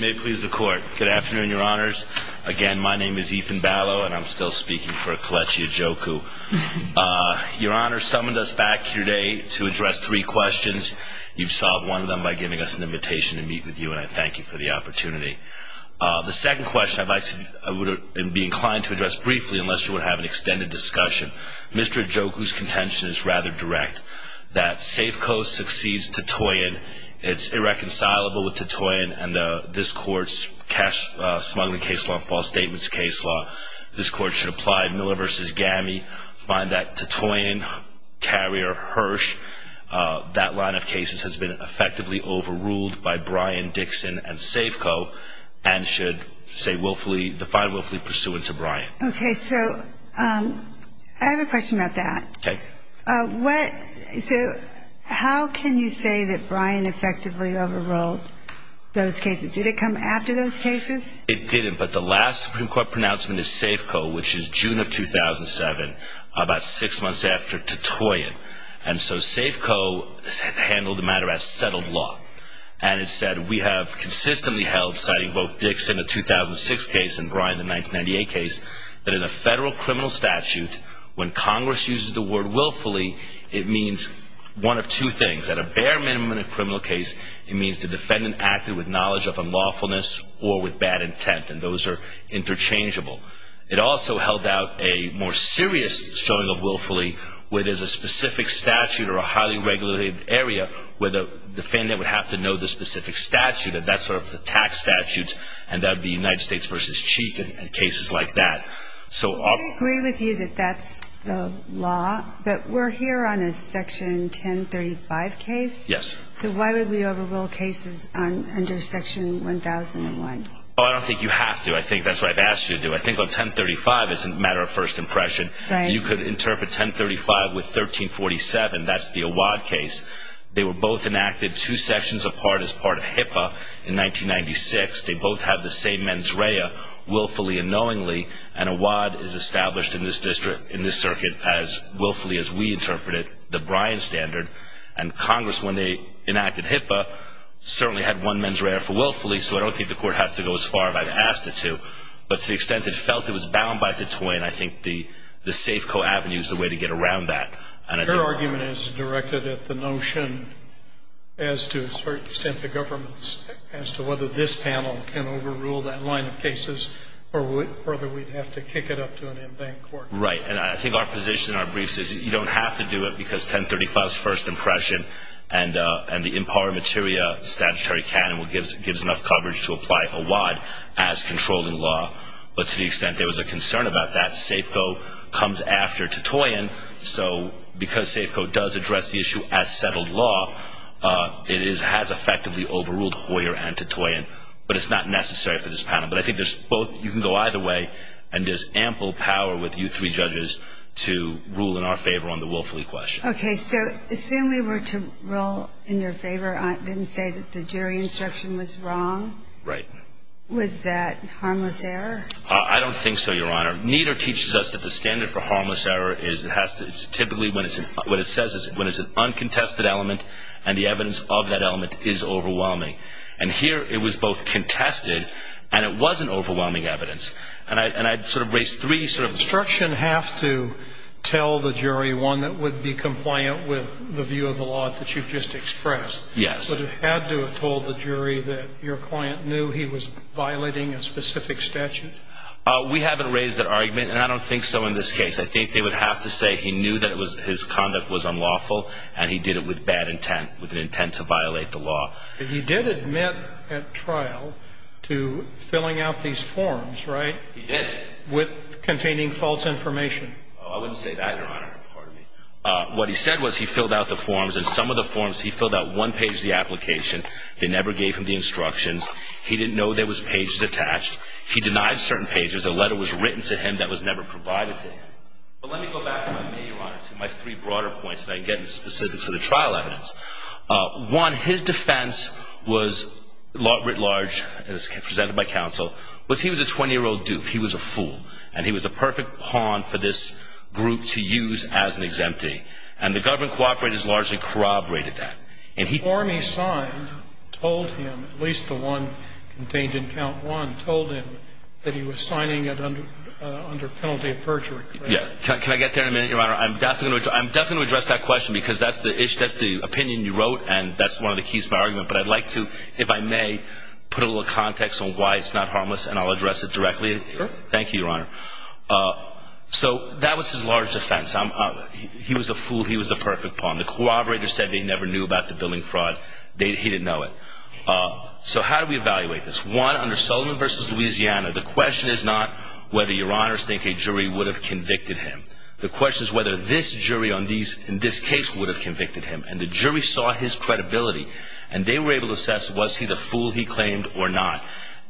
May it please the court. Good afternoon, your honors. Again, my name is Ethan Balow and I'm still speaking for Kelechi Ajoku. Your honor summoned us back here today to address three questions. You've solved one of them by giving us an invitation to meet with you and I thank you for the opportunity. The second question I would be inclined to address briefly unless you would have an extended discussion. Mr. Ajoku's contention is rather direct. That SAFCO succeeds Titoian. It's irreconcilable with Titoian and this court's cash smuggling case law, false statements case law. This court should apply Miller v. Gammy, find that Titoian carrier Hirsch, that line of cases has been effectively overruled by Brian Dixon and SAFCO and should say willfully, define willfully pursue it to Brian. Okay, so I have a question about that. Okay. What, so how can you say that Brian effectively overruled those cases? Did it come after those cases? It didn't, but the last Supreme Court pronouncement is SAFCO, which is June of 2007, about six months after Titoian. And so SAFCO handled the matter as settled law. And it said, we have consistently held, citing both Dixon in the 2006 case and Brian in the 1998 case, that in a federal criminal statute, when Congress uses the word willfully, it means one of two things. At a bare minimum in a criminal case, it means the defendant acted with knowledge of unlawfulness or with bad intent. And those are interchangeable. It also held out a more serious showing of willfully where there's a specific statute or a highly regulated area where the defendant would have to know the specific statute and that's sort of the tax statutes and that would be United States v. Chief and cases like that. So I agree with you that that's the law, but we're here on a Section 1035 case. Yes. So why would we overrule cases under Section 1001? Oh, I don't think you have to. I think that's what I've asked you to do. I think on 1035, it's a matter of first impression. Right. You could interpret 1035 with 1347. That's the Awad case. They were both enacted two sections apart as part of HIPAA in 1996. They both had the same mens rea, willfully and knowingly, and Awad is established in this district, in this circuit, as willfully as we interpret it, the Brian standard. And Congress, when they enacted HIPAA, certainly had one mens rea for willfully, so I don't think the Court has to go as far as I've asked it to. But to the extent it felt it was bound by the twin, I think the Safeco Avenue is the way to get around that. Your argument is directed at the notion, as to a certain extent, the government's, as to whether this panel can overrule that line of cases or whether we'd have to kick it up to an in-bank court. Right. And I think our position in our briefs is you don't have to do it because 1035's first impression and the impar materia statutory canon gives enough coverage to apply Awad as controlling law. But to the extent there was a concern about that, Safeco comes after does address the issue as settled law. It is, has effectively overruled Hoyer and Titoyen, but it's not necessary for this panel. But I think there's both, you can go either way, and there's ample power with you three judges to rule in our favor on the willfully question. Okay, so assume we were to rule in your favor, didn't say that the jury instruction was wrong. Right. Was that harmless error? I don't think so, Your Honor. Neither teaches us that the standard for harmless error is, it has to, it's typically when it's, what it says is when it's an uncontested element and the evidence of that element is overwhelming. And here it was both contested and it wasn't overwhelming evidence. And I, and I sort of raised three sort of instructions. Instruction have to tell the jury one that would be compliant with the view of the law that you've just expressed. Yes. But it had to have told the jury that your client knew he was violating a specific statute? We haven't raised that argument and I don't think so in this case. I think they would have to say he knew that it was, his conduct was unlawful and he did it with bad intent, with an intent to violate the law. But he did admit at trial to filling out these forms, right? He did. With containing false information. Oh, I wouldn't say that, Your Honor. Pardon me. What he said was he filled out the forms and some of the forms, he filled out one page of the application. They never gave him the certain pages. A letter was written to him that was never provided to him. But let me go back to my three broader points so I can get into specifics of the trial evidence. One, his defense was, writ large, as presented by counsel, was he was a 20-year-old duke. He was a fool. And he was a perfect pawn for this group to use as an exemptee. And the government cooperators largely corroborated that. And he told him, at least the one contained in count one, told him that he was signing it under penalty of perjury. Can I get there in a minute, Your Honor? I'm definitely going to address that question because that's the opinion you wrote and that's one of the keys to my argument. But I'd like to, if I may, put a little context on why it's not harmless and I'll address it directly. Sure. Thank you, Your Honor. So that was his large defense. He was a fool. He was a perfect pawn. The cooperators said they never knew about the billing fraud. He didn't know it. So how do we evaluate this? One, under Sullivan v. Louisiana, the question is not whether Your Honors think a jury would have convicted him. The question is whether this jury in this case would have convicted him. And the jury saw his credibility and they were able to assess was he the fool he claimed or not.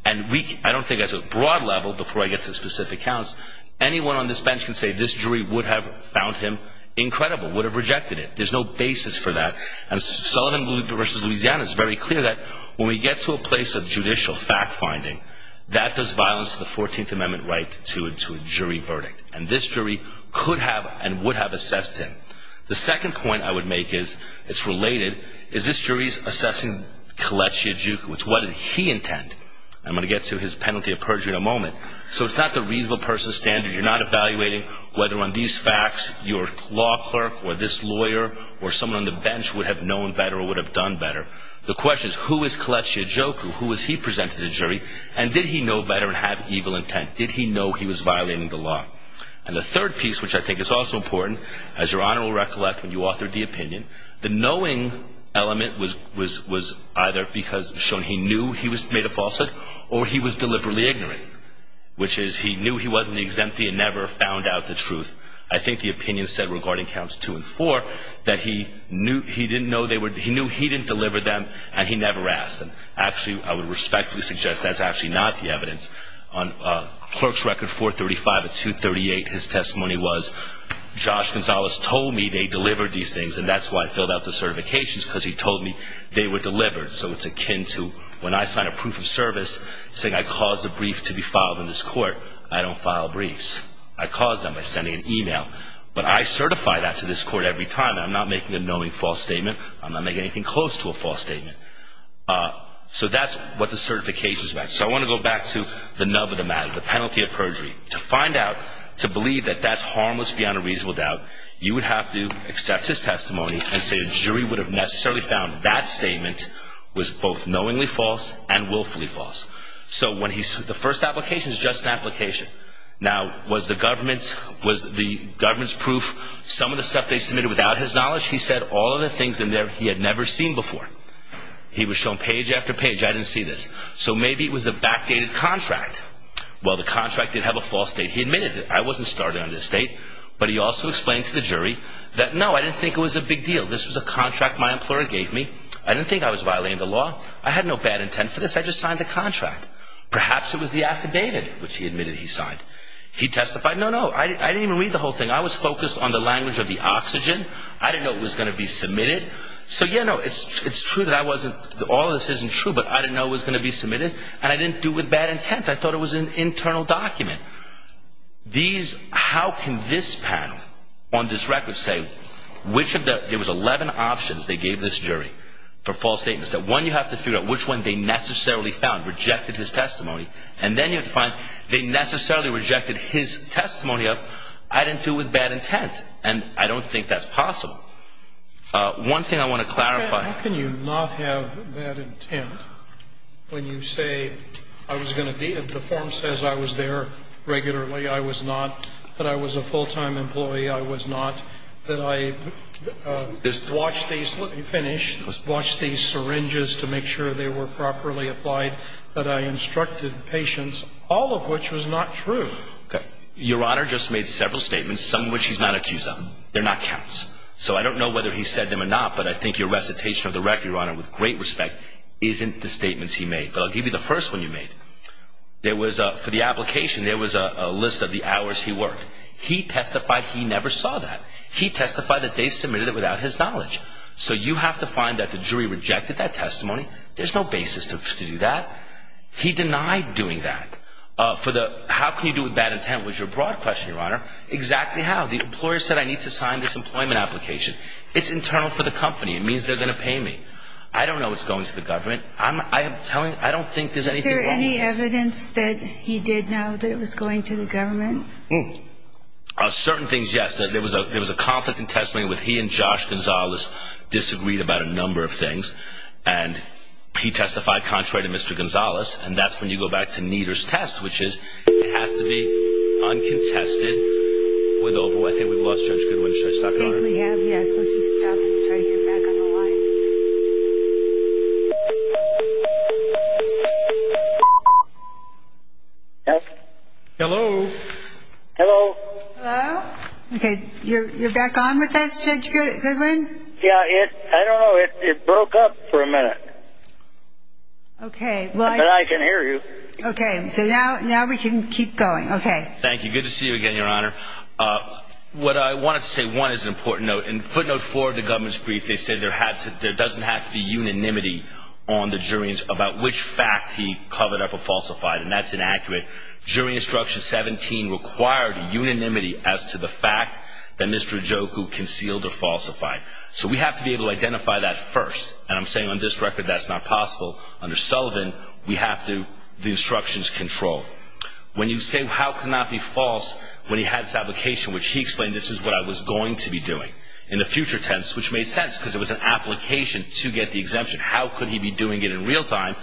And I don't think as a broad level, before I get to specific counts, anyone on this bench can say this jury would have found him incredible, would have rejected it. There's no basis for that. And Sullivan v. Louisiana is very clear that when we get to a place of judicial fact-finding, that does violence to the 14th Amendment right to a jury verdict. And this jury could have and would have assessed him. The second point I would make is, it's related, is this jury's assessing Kolechia Juca, which what did he intend? I'm going to get to his penalty of perjury in a moment. So it's not the reasonable person's standard. You're not evaluating whether on these facts your law clerk or this lawyer or someone on the bench would have known better or would have done better. The question is, who is Kolechia Juca? Who was he presented to the jury? And did he know better and have evil intent? Did he know he was violating the law? And the third piece, which I think is also important, as Your Honor will recollect when you authored the opinion, the knowing element was either because it was shown he knew he was made a falsehood or he was deliberately ignorant, which is he knew he wasn't exempt and never found out the truth. I think the opinion said regarding counts two and four that he knew he didn't know they were, he knew he didn't deliver them and he never asked them. Actually, I would respectfully suggest that's actually not the evidence. On Clerk's Record 435 of 238, his testimony was, Josh Gonzalez told me they delivered these things and that's why I filled out the certifications because he told me they were delivered. So it's akin to when I sign a proof of service saying I caused a brief to be filed in this court. I caused them by sending an email. But I certify that to this court every time and I'm not making a knowing false statement. I'm not making anything close to a false statement. So that's what the certification is about. So I want to go back to the nub of the matter, the penalty of perjury. To find out, to believe that that's harmless beyond a reasonable doubt, you would have to accept his testimony and say a jury would have necessarily found that statement was both knowingly false and willfully false. The first application is just an application. Now, was the government's proof some of the stuff they submitted without his knowledge? He said all of the things in there he had never seen before. He was shown page after page. I didn't see this. So maybe it was a backdated contract. Well, the contract did have a false date. He admitted that I wasn't starting on this date. But he also explained to the jury that no, I didn't think it was a big deal. This was a contract my employer gave me. I didn't think I was violating the contract. Perhaps it was the affidavit, which he admitted he signed. He testified, no, no, I didn't even read the whole thing. I was focused on the language of the oxygen. I didn't know it was going to be submitted. So yeah, no, it's true that I wasn't, all of this isn't true, but I didn't know it was going to be submitted and I didn't do it with bad intent. I thought it was an internal document. These, how can this panel on this record say which of the, there was 11 options they gave this jury for false statements, that one you have to figure out which one they necessarily found, rejected his testimony. And then you have to find they necessarily rejected his testimony of, I didn't do it with bad intent. And I don't think that's possible. One thing I want to clarify. How can you not have bad intent when you say I was going to be, the form says I was there regularly. I was not, that I was a full-time employee. I was not, that I. Let me finish. Watch these syringes to make sure they were properly applied, that I instructed patients, all of which was not true. Okay. Your Honor, just made several statements, some of which he's not accused of. They're not counts. So I don't know whether he said them or not, but I think your recitation of the record, Your Honor, with great respect, isn't the statements he made. But I'll give you the first one you made. There was a, for the application, there was a list of the So you have to find that the jury rejected that testimony. There's no basis to do that. He denied doing that. For the, how can you do it with bad intent was your broad question, Your Honor. Exactly how? The employer said I need to sign this employment application. It's internal for the company. It means they're going to pay me. I don't know what's going to the government. I'm telling, I don't think there's anything wrong with this. Is there any evidence that he did know that it was going to the government? Certain things, yes. There was a conflict in testimony with he and Josh Gonzalez disagreed about a number of things. And he testified contrary to Mr. Gonzalez. And that's when you go back to Nieder's test, which is, it has to be uncontested with over, I think we've lost Judge Goodwin. Should I stop you, Your Honor? I think we have, yes. Let's just stop and try to get back on the line. Hello. Hello. Hello. Okay. You're, you're back on with us Judge Goodwin? Yeah, it, I don't know. It broke up for a minute. Okay. But I can hear you. Okay. So now, now we can keep going. Okay. Thank you. Good to see you again, Your Honor. Uh, what I wanted to say one is an important note. In footnote four of the government's brief, they said there had to, there doesn't have to be unanimity on the jury about which fact he covered up or falsified. And that's inaccurate. Jury instruction 17 required unanimity as to the fact that Mr. Ojukwu concealed or falsified. So we have to be able to identify that first. And I'm saying on this record, that's not possible. Under Sullivan, we have to, the instructions control. When you say, how can that be false? When he had this application, which he explained, this is what I was going to be doing in the future tense, which made sense because it was an application to get the exemption. How could he be doing it in real time?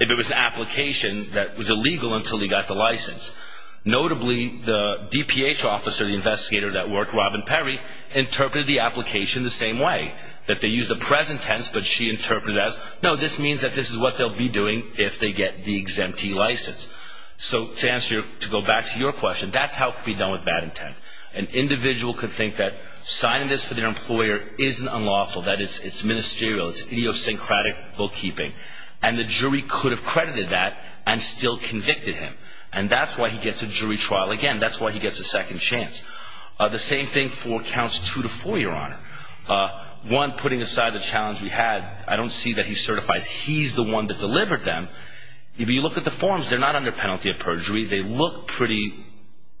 If it was an application that was illegal until he got the license. Notably, the DPH officer, the investigator that worked Robin Perry, interpreted the application the same way that they use the present tense, but she interpreted as, no, this means that this is what they'll be doing if they get the exemptee license. So to answer your, to answer your question, I would say, yes, the trial could be done with bad intent. An individual could think that signing this for their employer isn't unlawful, that it's ministerial, it's idiosyncratic bookkeeping. And the jury could have credited that and still convicted him. And that's why he gets a jury trial. Again, that's why he gets a second chance. The same thing for counts two to four, Your Honor. One, putting aside the challenge we had, I don't see that he certifies he's the one that delivered them. If you look at the forms, they're not under penalty of perjury. They look pretty,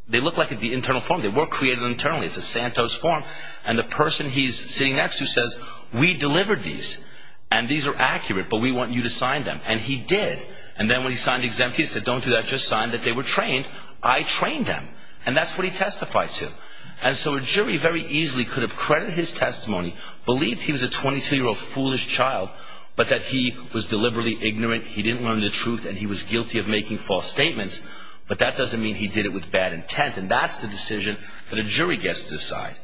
they look like the internal form. They were created internally. It's a Santos form. And the person he's sitting next to says, we delivered these, and these are accurate, but we want you to sign them. And he did. And then when he signed exempt, he said, don't do that. Just sign that they were trained. I trained them. And that's what he testified to. And so a jury very easily could have credited his testimony, believed he was a 22-year-old foolish child, but that he was deliberately ignorant, he didn't learn the truth, and he was guilty of making false statements. But that doesn't mean he did it with bad intent. And that's the decision that a jury gets to decide.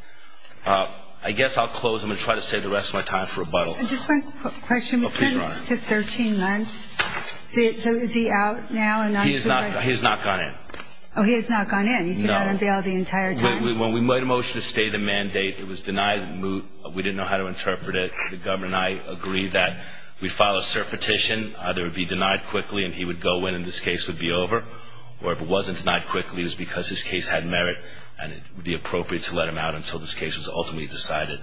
I guess I'll close. I'm going to try to save the rest of my time for rebuttal. Just one question. The sentence to 13 months, so is he out now? He has not gone in. Oh, he has not gone in. He's been out on bail the entire time. When we made a motion to stay the mandate, it was denied. We didn't know how to interpret it. The governor and I agreed that we'd file a cert petition, either it would be denied quickly and he would go in and this case would be over, or if it wasn't denied quickly, it was because his case had merit and it would be appropriate to let him out until this case was ultimately decided.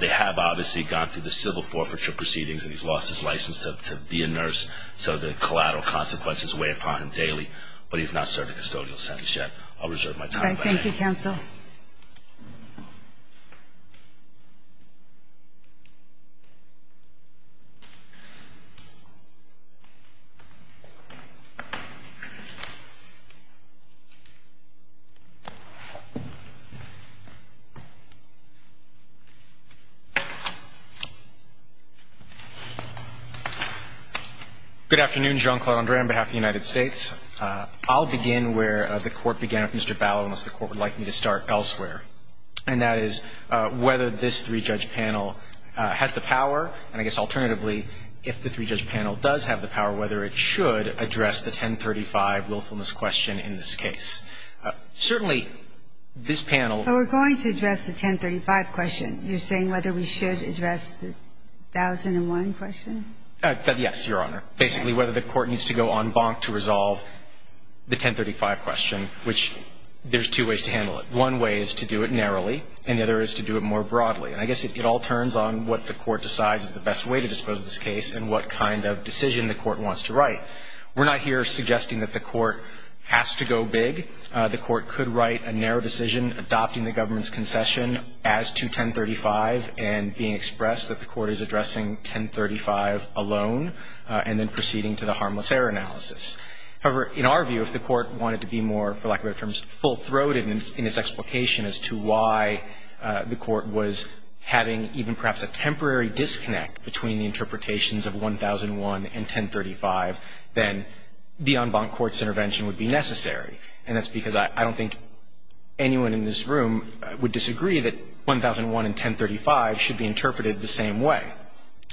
They have obviously gone through the civil forfeiture proceedings and he's lost his license to be a nurse, so the collateral consequences weigh upon him daily. But he's not served a custodial sentence yet. I'll reserve my time. All right. Thank you, counsel. Good afternoon. John Claude Andre on behalf of the United States. I'll begin where the Court would like me to start elsewhere, and that is whether this three-judge panel has the power, and I guess alternatively, if the three-judge panel does have the power, whether it should address the 1035 willfulness question in this case. Certainly, this panel ---- We're going to address the 1035 question. You're saying whether we should address the 1001 question? Yes, Your Honor. Basically, whether the Court needs to go en banc to resolve the 1035 question, which there's two ways to handle it. One way is to do it narrowly, and the other is to do it more broadly. And I guess it all turns on what the Court decides is the best way to dispose of this case and what kind of decision the Court wants to write. We're not here suggesting that the Court has to go big. The Court could write a narrow decision adopting the government's concession as to 1035 and being expressed that the Court is addressing 1035 alone and then proceeding to the harmless error analysis. However, in our view, if the Court wanted to be more, for lack of better terms, full-throated in its explication as to why the Court was having even perhaps a temporary disconnect between the interpretations of 1001 and 1035, then the en banc court's intervention would be necessary. And that's because I don't think anyone in this room would disagree that 1001 and 1035 should be interpreted the same way.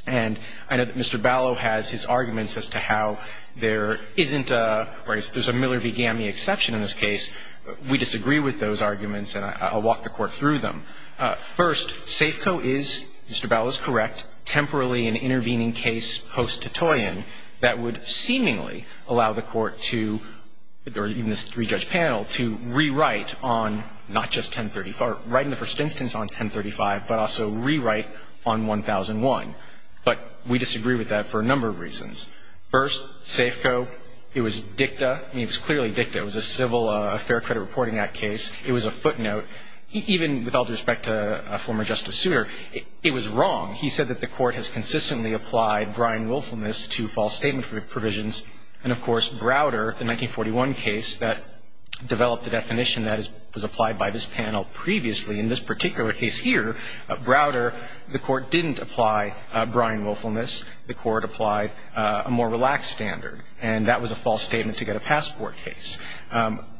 And I know that Mr. Ballo has his arguments as to how there isn't a, or there's a Miller v. Gammie exception in this case. We disagree with those arguments, and I'll walk the Court through them. First, SAFCO is, Mr. Ballo is correct, temporarily an intervening case post-Titoyen that would seemingly allow the Court to, or even this three-judge panel, to rewrite on not just 1035, write in the first instance on 1035, but also rewrite on 1001. But we disagree with that for a number of reasons. First, SAFCO, it was dicta. I mean, it was clearly dicta. It was a civil, a fair credit reporting act case. It was a footnote. Even with all due respect to a former Justice Souter, it was wrong. He said that the Court has consistently applied Brian Willfulness to false statement provisions. And, of course, Browder, the 1941 case that developed the definition that was applied by this panel previously, in this particular case here, Browder, the Court didn't apply Brian Willfulness. The Court applied a more relaxed standard, and that was a false statement to get a passport case.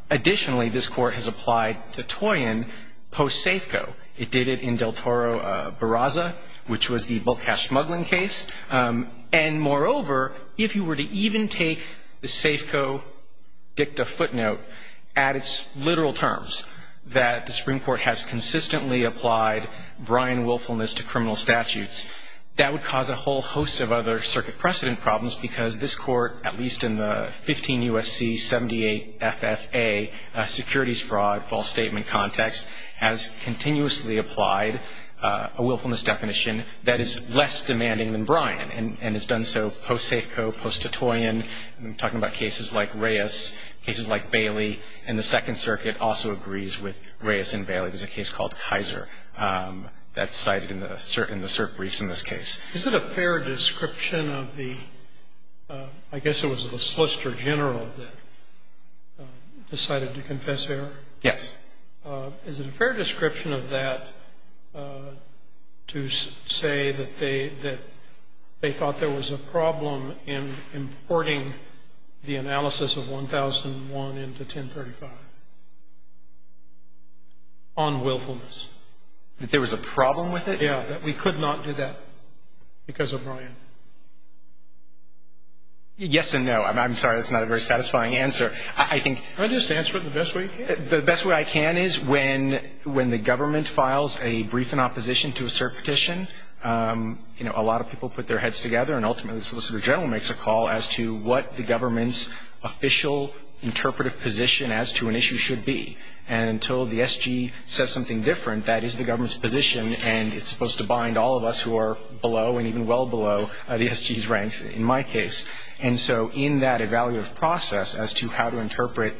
Additionally, this Court has applied Titoyen post-SAFCO. It did it in Del Toro Barraza, which was the bulk cash smuggling case. And, moreover, if you were to even take the SAFCO dicta footnote at its literal terms, that the Supreme Court has consistently applied Brian Willfulness to criminal statutes, that would cause a whole host of other circuit precedent problems because this Court, at least in the 15 U.S.C. 78 FFA securities fraud false statement context, has continuously applied a willfulness definition that is less demanding than Brian and has done so post-SAFCO, post-Titoyen. I'm talking about cases like Reyes, cases like Bailey. And the Second Circuit also agrees with Reyes and Bailey. There's a case called Kaiser that's cited in the cert briefs in this case. Is it a fair description of the — I guess it was the Solicitor General that decided to confess error? Yes. Is it a fair description of that to say that they thought there was a problem in importing the analysis of 1001 into 1035? On willfulness. That there was a problem with it? Yeah. That we could not do that because of Brian. Yes and no. I'm sorry. That's not a very satisfying answer. I think — Can I just answer it the best way you can? The best way I can is when the government files a brief in opposition to a cert petition, you know, a lot of people put their heads together and ultimately the Solicitor General makes a call as to what the government's official interpretive position as to an issue should be. And until the SG says something different, that is the government's position and it's supposed to bind all of us who are below and even well below the SG's ranks in my case. And so in that evaluative process as to how to interpret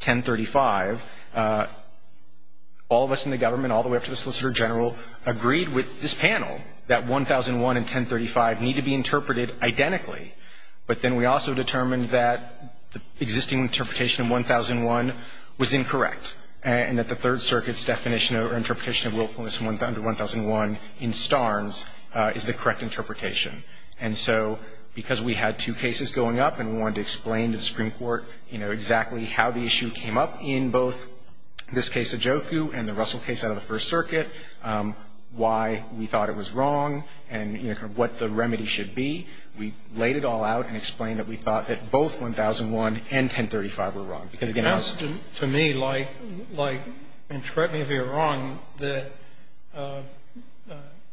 1035, all of us in the government, all the way up to the Solicitor General, agreed with this panel that 1001 and 1035 need to be But then we also determined that the existing interpretation of 1001 was incorrect and that the Third Circuit's definition or interpretation of willfulness under 1001 in Starnes is the correct interpretation. And so because we had two cases going up and we wanted to explain to the Supreme Court, you know, exactly how the issue came up in both this case of Joku and the Russell case out of the First Circuit, why we thought it was wrong and, you know, what the remedy should be, we laid it all out and explained that we thought that both 1001 and 1035 were wrong. To me, like, and correct me if you're wrong, that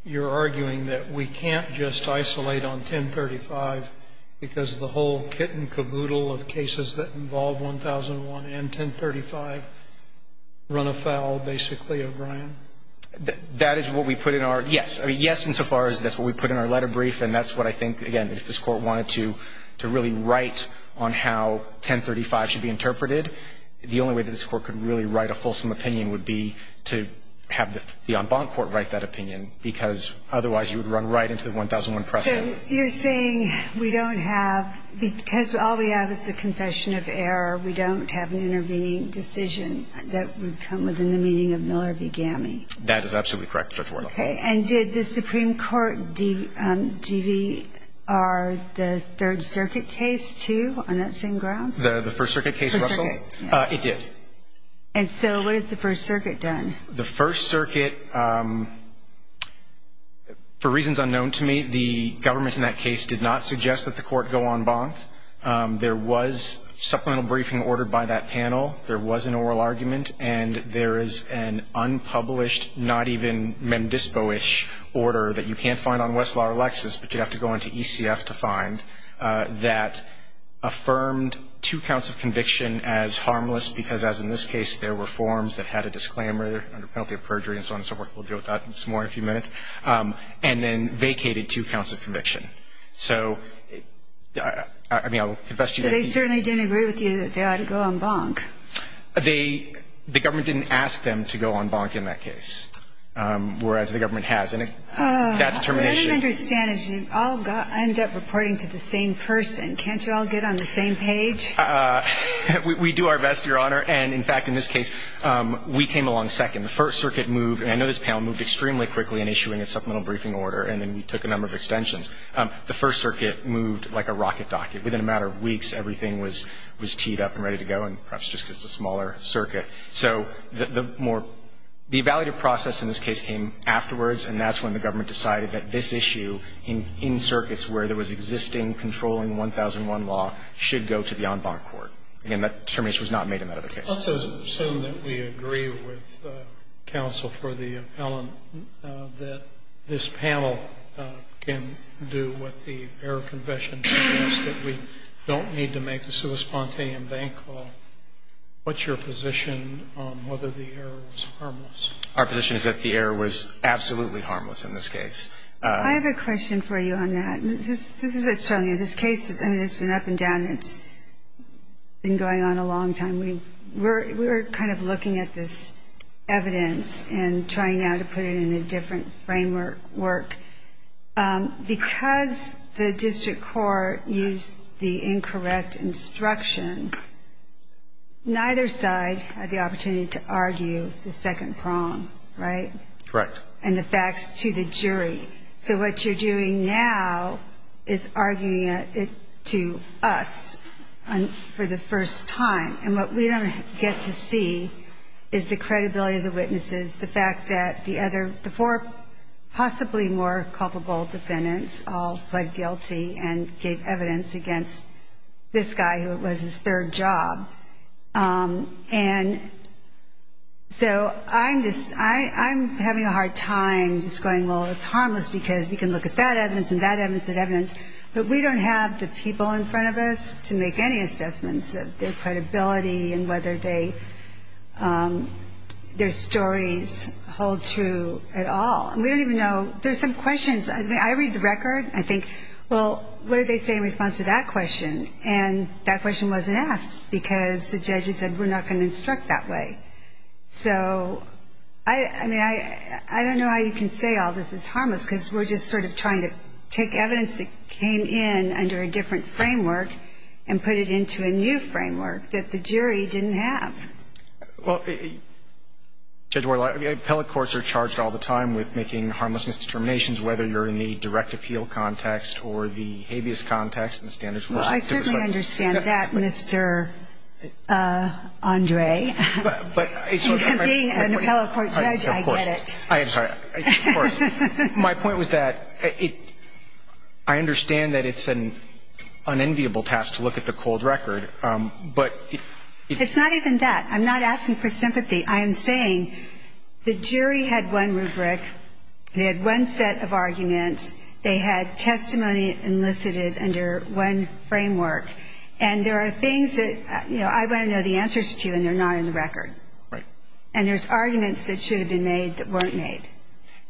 you're arguing that we can't just isolate on 1035 because the whole kit and caboodle of cases that involve 1001 and 1035 run afoul basically of Brian? That is what we put in our, yes, I mean, yes insofar as that's what we put in our letter brief and that's what I think, again, if this Court wanted to really write on how 1035 should be interpreted, the only way that this Court could really write a fulsome opinion would be to have the en banc court write that opinion because otherwise you would run right into the 1001 precedent. So you're saying we don't have, because all we have is the confession of error, we don't have an intervening decision that would come within the meaning of Miller v. Gammie? That is absolutely correct, Judge Ward. Okay, and did the Supreme Court DVR the Third Circuit case, too, on that same grounds? The First Circuit case, Russell? The First Circuit, yeah. It did. And so what has the First Circuit done? The First Circuit, for reasons unknown to me, the government in that case did not suggest that the Court go en banc. There was supplemental briefing ordered by that panel. There was an oral argument, and there is an unpublished, not even mem dispo-ish order that you can't find on Westlaw or Lexis, but you'd have to go into ECF to find, that affirmed two counts of conviction as harmless because, as in this case, there were forms that had a disclaimer, under penalty of perjury and so on and so forth. We'll deal with that some more in a few minutes. And then vacated two counts of conviction. So, I mean, I'll confess to you. They certainly didn't agree with you that they ought to go en banc. They, the government didn't ask them to go en banc in that case, whereas the government has. And that determination. What I don't understand is you all end up reporting to the same person. Can't you all get on the same page? We do our best, Your Honor. And, in fact, in this case, we came along second. The First Circuit moved, and I know this panel moved extremely quickly in issuing a supplemental briefing order, and then we took a number of extensions. The First Circuit moved like a rocket docket. Within a matter of weeks, everything was teed up and ready to go, and perhaps just because it's a smaller circuit. So the more, the evaluative process in this case came afterwards, and that's when the government decided that this issue in circuits where there was existing controlling 1001 law should go to the en banc court. And that determination was not made in that other case. Let's assume that we agree with counsel for the appellant, that this panel can do what the error confession suggests, that we don't need to make a sui spontaneam banc call. What's your position on whether the error was harmless? Our position is that the error was absolutely harmless in this case. I have a question for you on that. This is what's telling you. This case, I mean, it's been up and down. It's been going on a long time. We were kind of looking at this evidence and trying now to put it in a different framework. Because the district court used the incorrect instruction, neither side had the opportunity to argue the second prong, right? Correct. And the facts to the jury. So what you're doing now is arguing it to us for the first time. And what we don't get to see is the credibility of the witnesses, the fact that the four possibly more culpable defendants all pled guilty and gave evidence against this guy who was his third job. And so I'm having a hard time just going, well, it's harmless, because we can look at that evidence and that evidence and that evidence. But we don't have the people in front of us to make any assessments of their credibility and whether their stories hold true at all. And we don't even know. There's some questions. I mean, I read the record. I think, well, what did they say in response to that question? And that question wasn't asked because the judge had said, we're not going to instruct that way. So, I mean, I don't know how you can say all this is harmless, because we're just sort of trying to take evidence that came in under a different framework and put it into a new framework that the jury didn't have. Well, Judge Warlock, appellate courts are charged all the time with making harmlessness determinations, whether you're in the direct appeal context or the habeas context, and the standards were set to reflect that. Well, I certainly understand that, Mr. Andre. But it's sort of my point. And being an appellate court judge, I get it. I'm sorry. Of course. My point was that I understand that it's an unenviable task to look at the cold record, but it's not even that. I'm not asking for sympathy. I am saying the jury had one rubric. They had one set of arguments. They had testimony enlisted under one framework. And there are things that, you know, I want to know the answers to, and they're not in the record. Right. And there's arguments that should have been made that weren't made.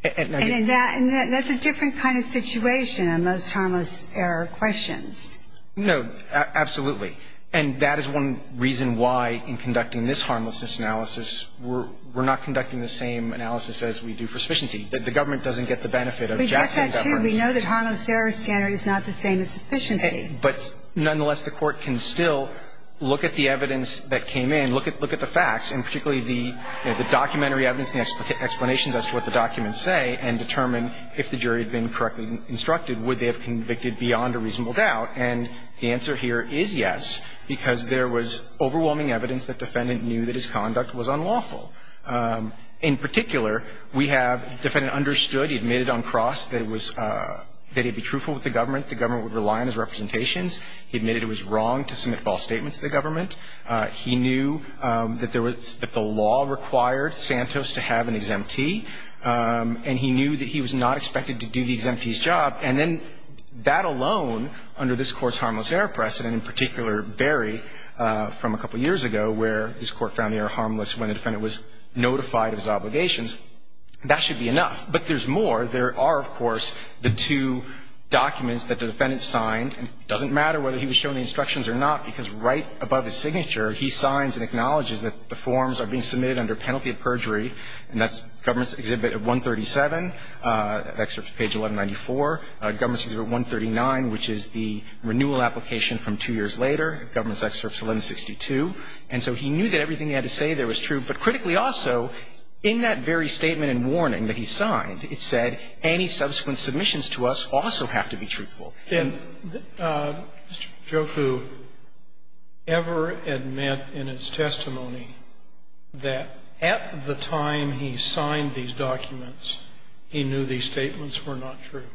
And that's a different kind of situation on most harmless error questions. No, absolutely. And that is one reason why, in conducting this harmlessness analysis, we're not conducting the same analysis as we do for sufficiency, that the government doesn't get the benefit of Jackson. We get that, too. We know that harmless error standard is not the same as sufficiency. But nonetheless, the Court can still look at the evidence that came in, look at the facts, and particularly the documentary evidence, the explanations as to what the documents say, and determine if the jury had been correctly instructed, would they have convicted beyond a reasonable doubt. And the answer here is yes, because there was overwhelming evidence that defendant knew that his conduct was unlawful. In particular, we have defendant understood, he admitted on cross that it was, that he'd be truthful with the government, the government would rely on his representations. He admitted it was wrong to submit false statements to the government. He knew that there was, that the law required Santos to have an exemptee. And he knew that he was not expected to do the exemptee's job. And then that alone, under this Court's harmless error precedent, in particular, Barry, from a couple years ago, where this Court found the error harmless when the defendant was notified of his obligations, that should be enough. But there's more. There are, of course, the two documents that the defendant signed. And it doesn't matter whether he was shown the instructions or not, because right above his signature, he signs and acknowledges that the forms are being submitted under penalty of perjury. And that's Government's Exhibit 137, excerpt page 1194. Government's Exhibit 139, which is the renewal application from two years later, Government's Excerpt 1162. And so he knew that everything he had to say there was true. But critically also, in that very statement and warning that he signed, it said any subsequent submissions to us also have to be truthful. And did Mr. Jofu ever admit in his testimony that at the time he signed these documents, he knew these statements were not true?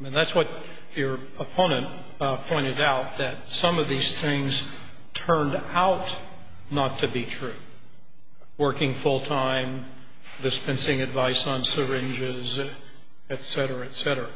I mean, that's what your opponent pointed out, that some of these things turned out not to be true. Working full-time, dispensing advice on syringes, et cetera, et cetera.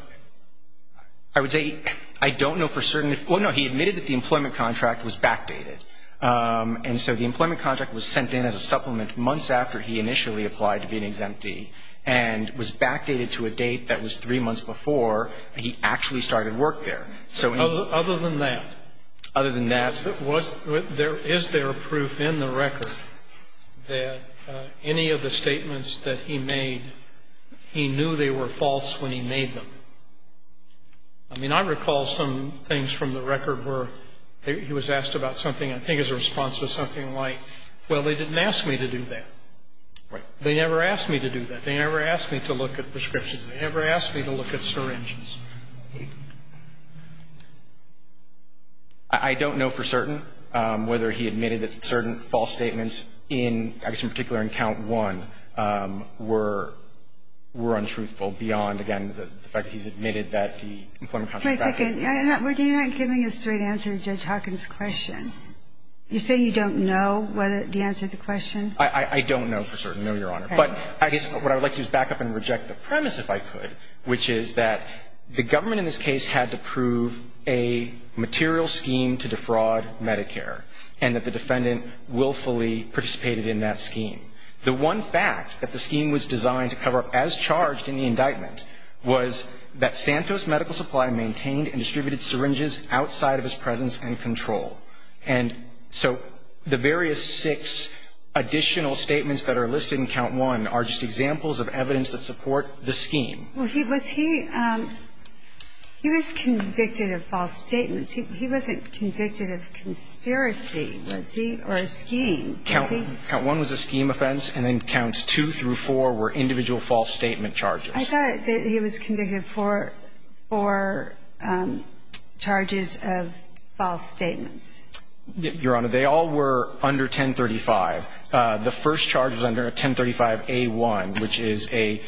I would say I don't know for certain. Well, no, he admitted that the employment contract was backdated. And so I don't know for certain. And so the employment contract was sent in as a supplement months after he initially applied to be an exemptee and was backdated to a date that was three months before he actually started work there. Other than that? Other than that. Is there proof in the record that any of the statements that he made, he knew they were false when he made them? I mean, I recall some things from the record where he was asked about something I think as a response to something like, well, they didn't ask me to do that. Right. They never asked me to do that. They never asked me to look at prescriptions. They never asked me to look at syringes. I don't know for certain whether he admitted that certain false statements in, I guess, in particular in Count I were untruthful beyond, again, the fact that he's admitted that the employment contract was backdated. Wait a second. You're not giving a straight answer to Judge Hawkins' question. You're saying you don't know the answer to the question? I don't know for certain, no, Your Honor. But I guess what I would like to do is back up and reject the premise, if I could, which is that the government in this case had to prove a material scheme to defraud Medicare and that the defendant willfully participated in that scheme. The one fact that the scheme was designed to cover up as charged in the indictment was that Santos Medical Supply maintained and distributed syringes outside of his presence and control. And so the various six additional statements that are listed in Count I are just examples of evidence that support the scheme. Well, was he convicted of false statements? He wasn't convicted of conspiracy, was he, or a scheme, was he? Count I was a scheme offense, and then Counts II through IV were individual false statement charges. I thought that he was convicted for four charges of false statements. Your Honor, they all were under 1035. The first charge was under 1035A1, which is a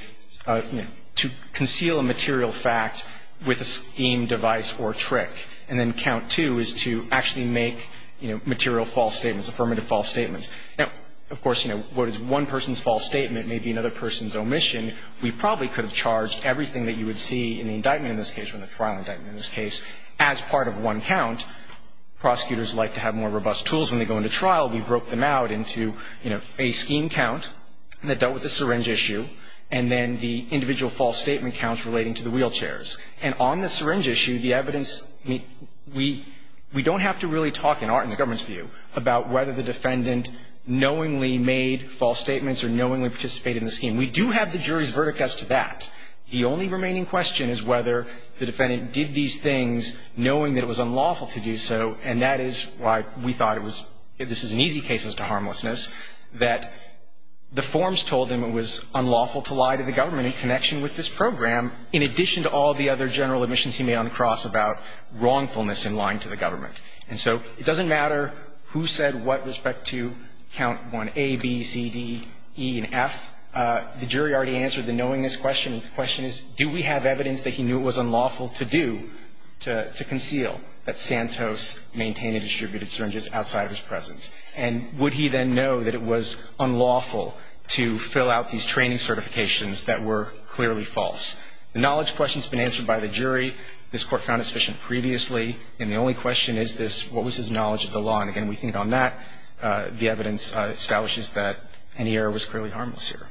to conceal a material fact with a scheme, device, or trick. And then Count II is to actually make, you know, material false statements, affirmative false statements. Now, of course, you know, what is one person's false statement may be another person's And so, you know, in the indictment in this case, we have charged everything that you would see in the indictment in this case, or in the trial indictment in this case, as part of one count. Prosecutors like to have more robust tools when they go into trial. We broke them out into, you know, a scheme count that dealt with the syringe issue and then the individual false statement counts relating to the wheelchairs. And on the syringe issue, the evidence, we don't have to really talk, about whether the defendant knowingly made false statements or knowingly participated in the scheme. We do have the jury's verdict as to that. The only remaining question is whether the defendant did these things knowing that it was unlawful to do so, and that is why we thought it was, this is an easy case as to harmlessness, that the forms told him it was unlawful to lie to the government in connection with this program, in addition to all the other general admissions he made on the cross about wrongfulness in lying to the government. And so it doesn't matter who said what with respect to count 1A, B, C, D, E, and F. The jury already answered the knowingness question. The question is, do we have evidence that he knew it was unlawful to do, to conceal that Santos maintained and distributed syringes outside of his presence? And would he then know that it was unlawful to fill out these training certifications that were clearly false? The knowledge question has been answered by the jury. This Court found it sufficient previously. And the only question is this, what was his knowledge of the law? And, again, we think on that, the evidence establishes that any error was clearly harmless here.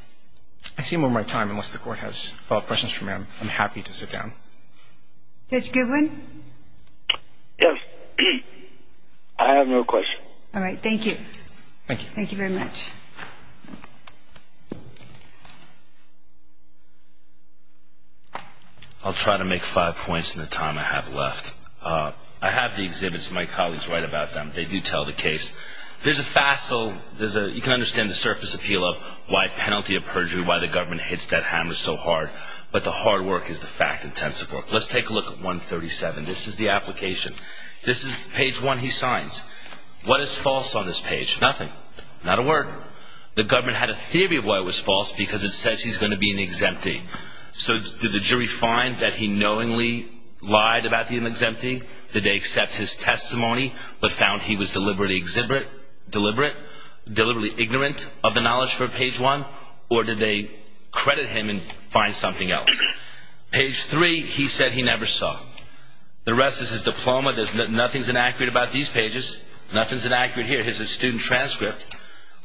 I see I'm over my time. Unless the Court has follow-up questions for me, I'm happy to sit down. Judge Goodwin? Yes. I have no questions. All right. Thank you. Thank you. Thank you very much. Thank you. I'll try to make five points in the time I have left. I have the exhibits. My colleagues write about them. They do tell the case. There's a facile, you can understand the surface appeal of why penalty of perjury, why the government hits that hammer so hard. But the hard work is the fact intensive work. Let's take a look at 137. This is the application. This is page one he signs. What is false on this page? Nothing. Not a word. The government had a theory of why it was false because it says he's going to be an exemptee. So did the jury find that he knowingly lied about being an exemptee? Did they accept his testimony but found he was deliberately deliberate, deliberately ignorant of the knowledge for page one? Or did they credit him and find something else? Page three, he said he never saw. The rest is his diploma. Nothing's inaccurate about these pages. Nothing's inaccurate here. His student transcript.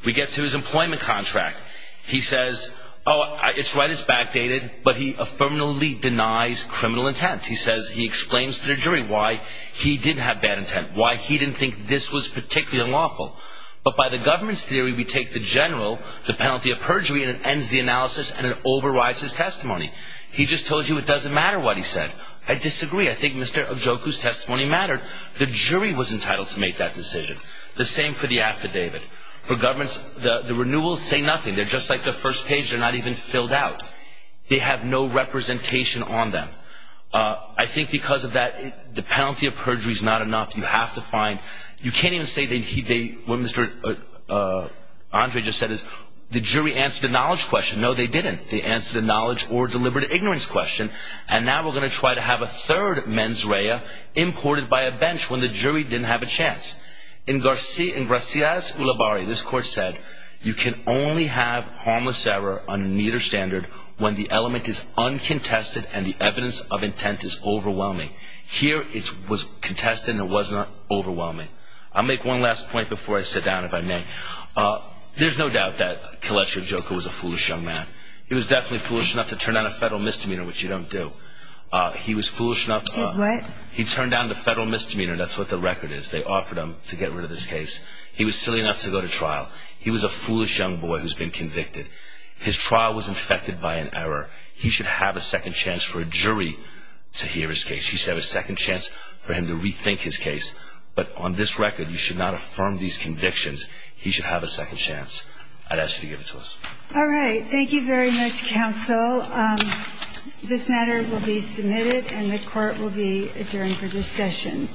We get to his employment contract. He says, oh, it's right, it's backdated, but he affirmatively denies criminal intent. He says he explains to the jury why he did have bad intent, why he didn't think this was particularly unlawful. But by the government's theory, we take the general, the penalty of perjury, and it ends the analysis and it overrides his testimony. He just told you it doesn't matter what he said. I disagree. I think Mr. Ojukwu's testimony mattered. The jury was entitled to make that decision. The same for the affidavit. For governments, the renewals say nothing. They're just like the first page. They're not even filled out. They have no representation on them. I think because of that, the penalty of perjury is not enough. You have to find – you can't even say they – what Mr. Andre just said is the jury answered a knowledge question. No, they didn't. They answered a knowledge or deliberate ignorance question, and now we're going to try to have a third mens rea imported by a bench when the jury didn't have a chance. In Garcia's Ulibarri, this court said, you can only have harmless error on a neater standard when the element is uncontested and the evidence of intent is overwhelming. Here, it was contested and it was not overwhelming. I'll make one last point before I sit down, if I may. There's no doubt that Kelechi Ojukwu was a foolish young man. He was definitely foolish enough to turn down a federal misdemeanor, which you don't do. He was foolish enough – Did what? He turned down the federal misdemeanor. That's what the record is. They offered him to get rid of this case. He was silly enough to go to trial. He was a foolish young boy who's been convicted. His trial was infected by an error. He should have a second chance for a jury to hear his case. He should have a second chance for him to rethink his case. But on this record, you should not affirm these convictions. He should have a second chance. I'd ask you to give it to us. All right. Thank you very much, counsel. This matter will be submitted and the court will be adjourned for this session.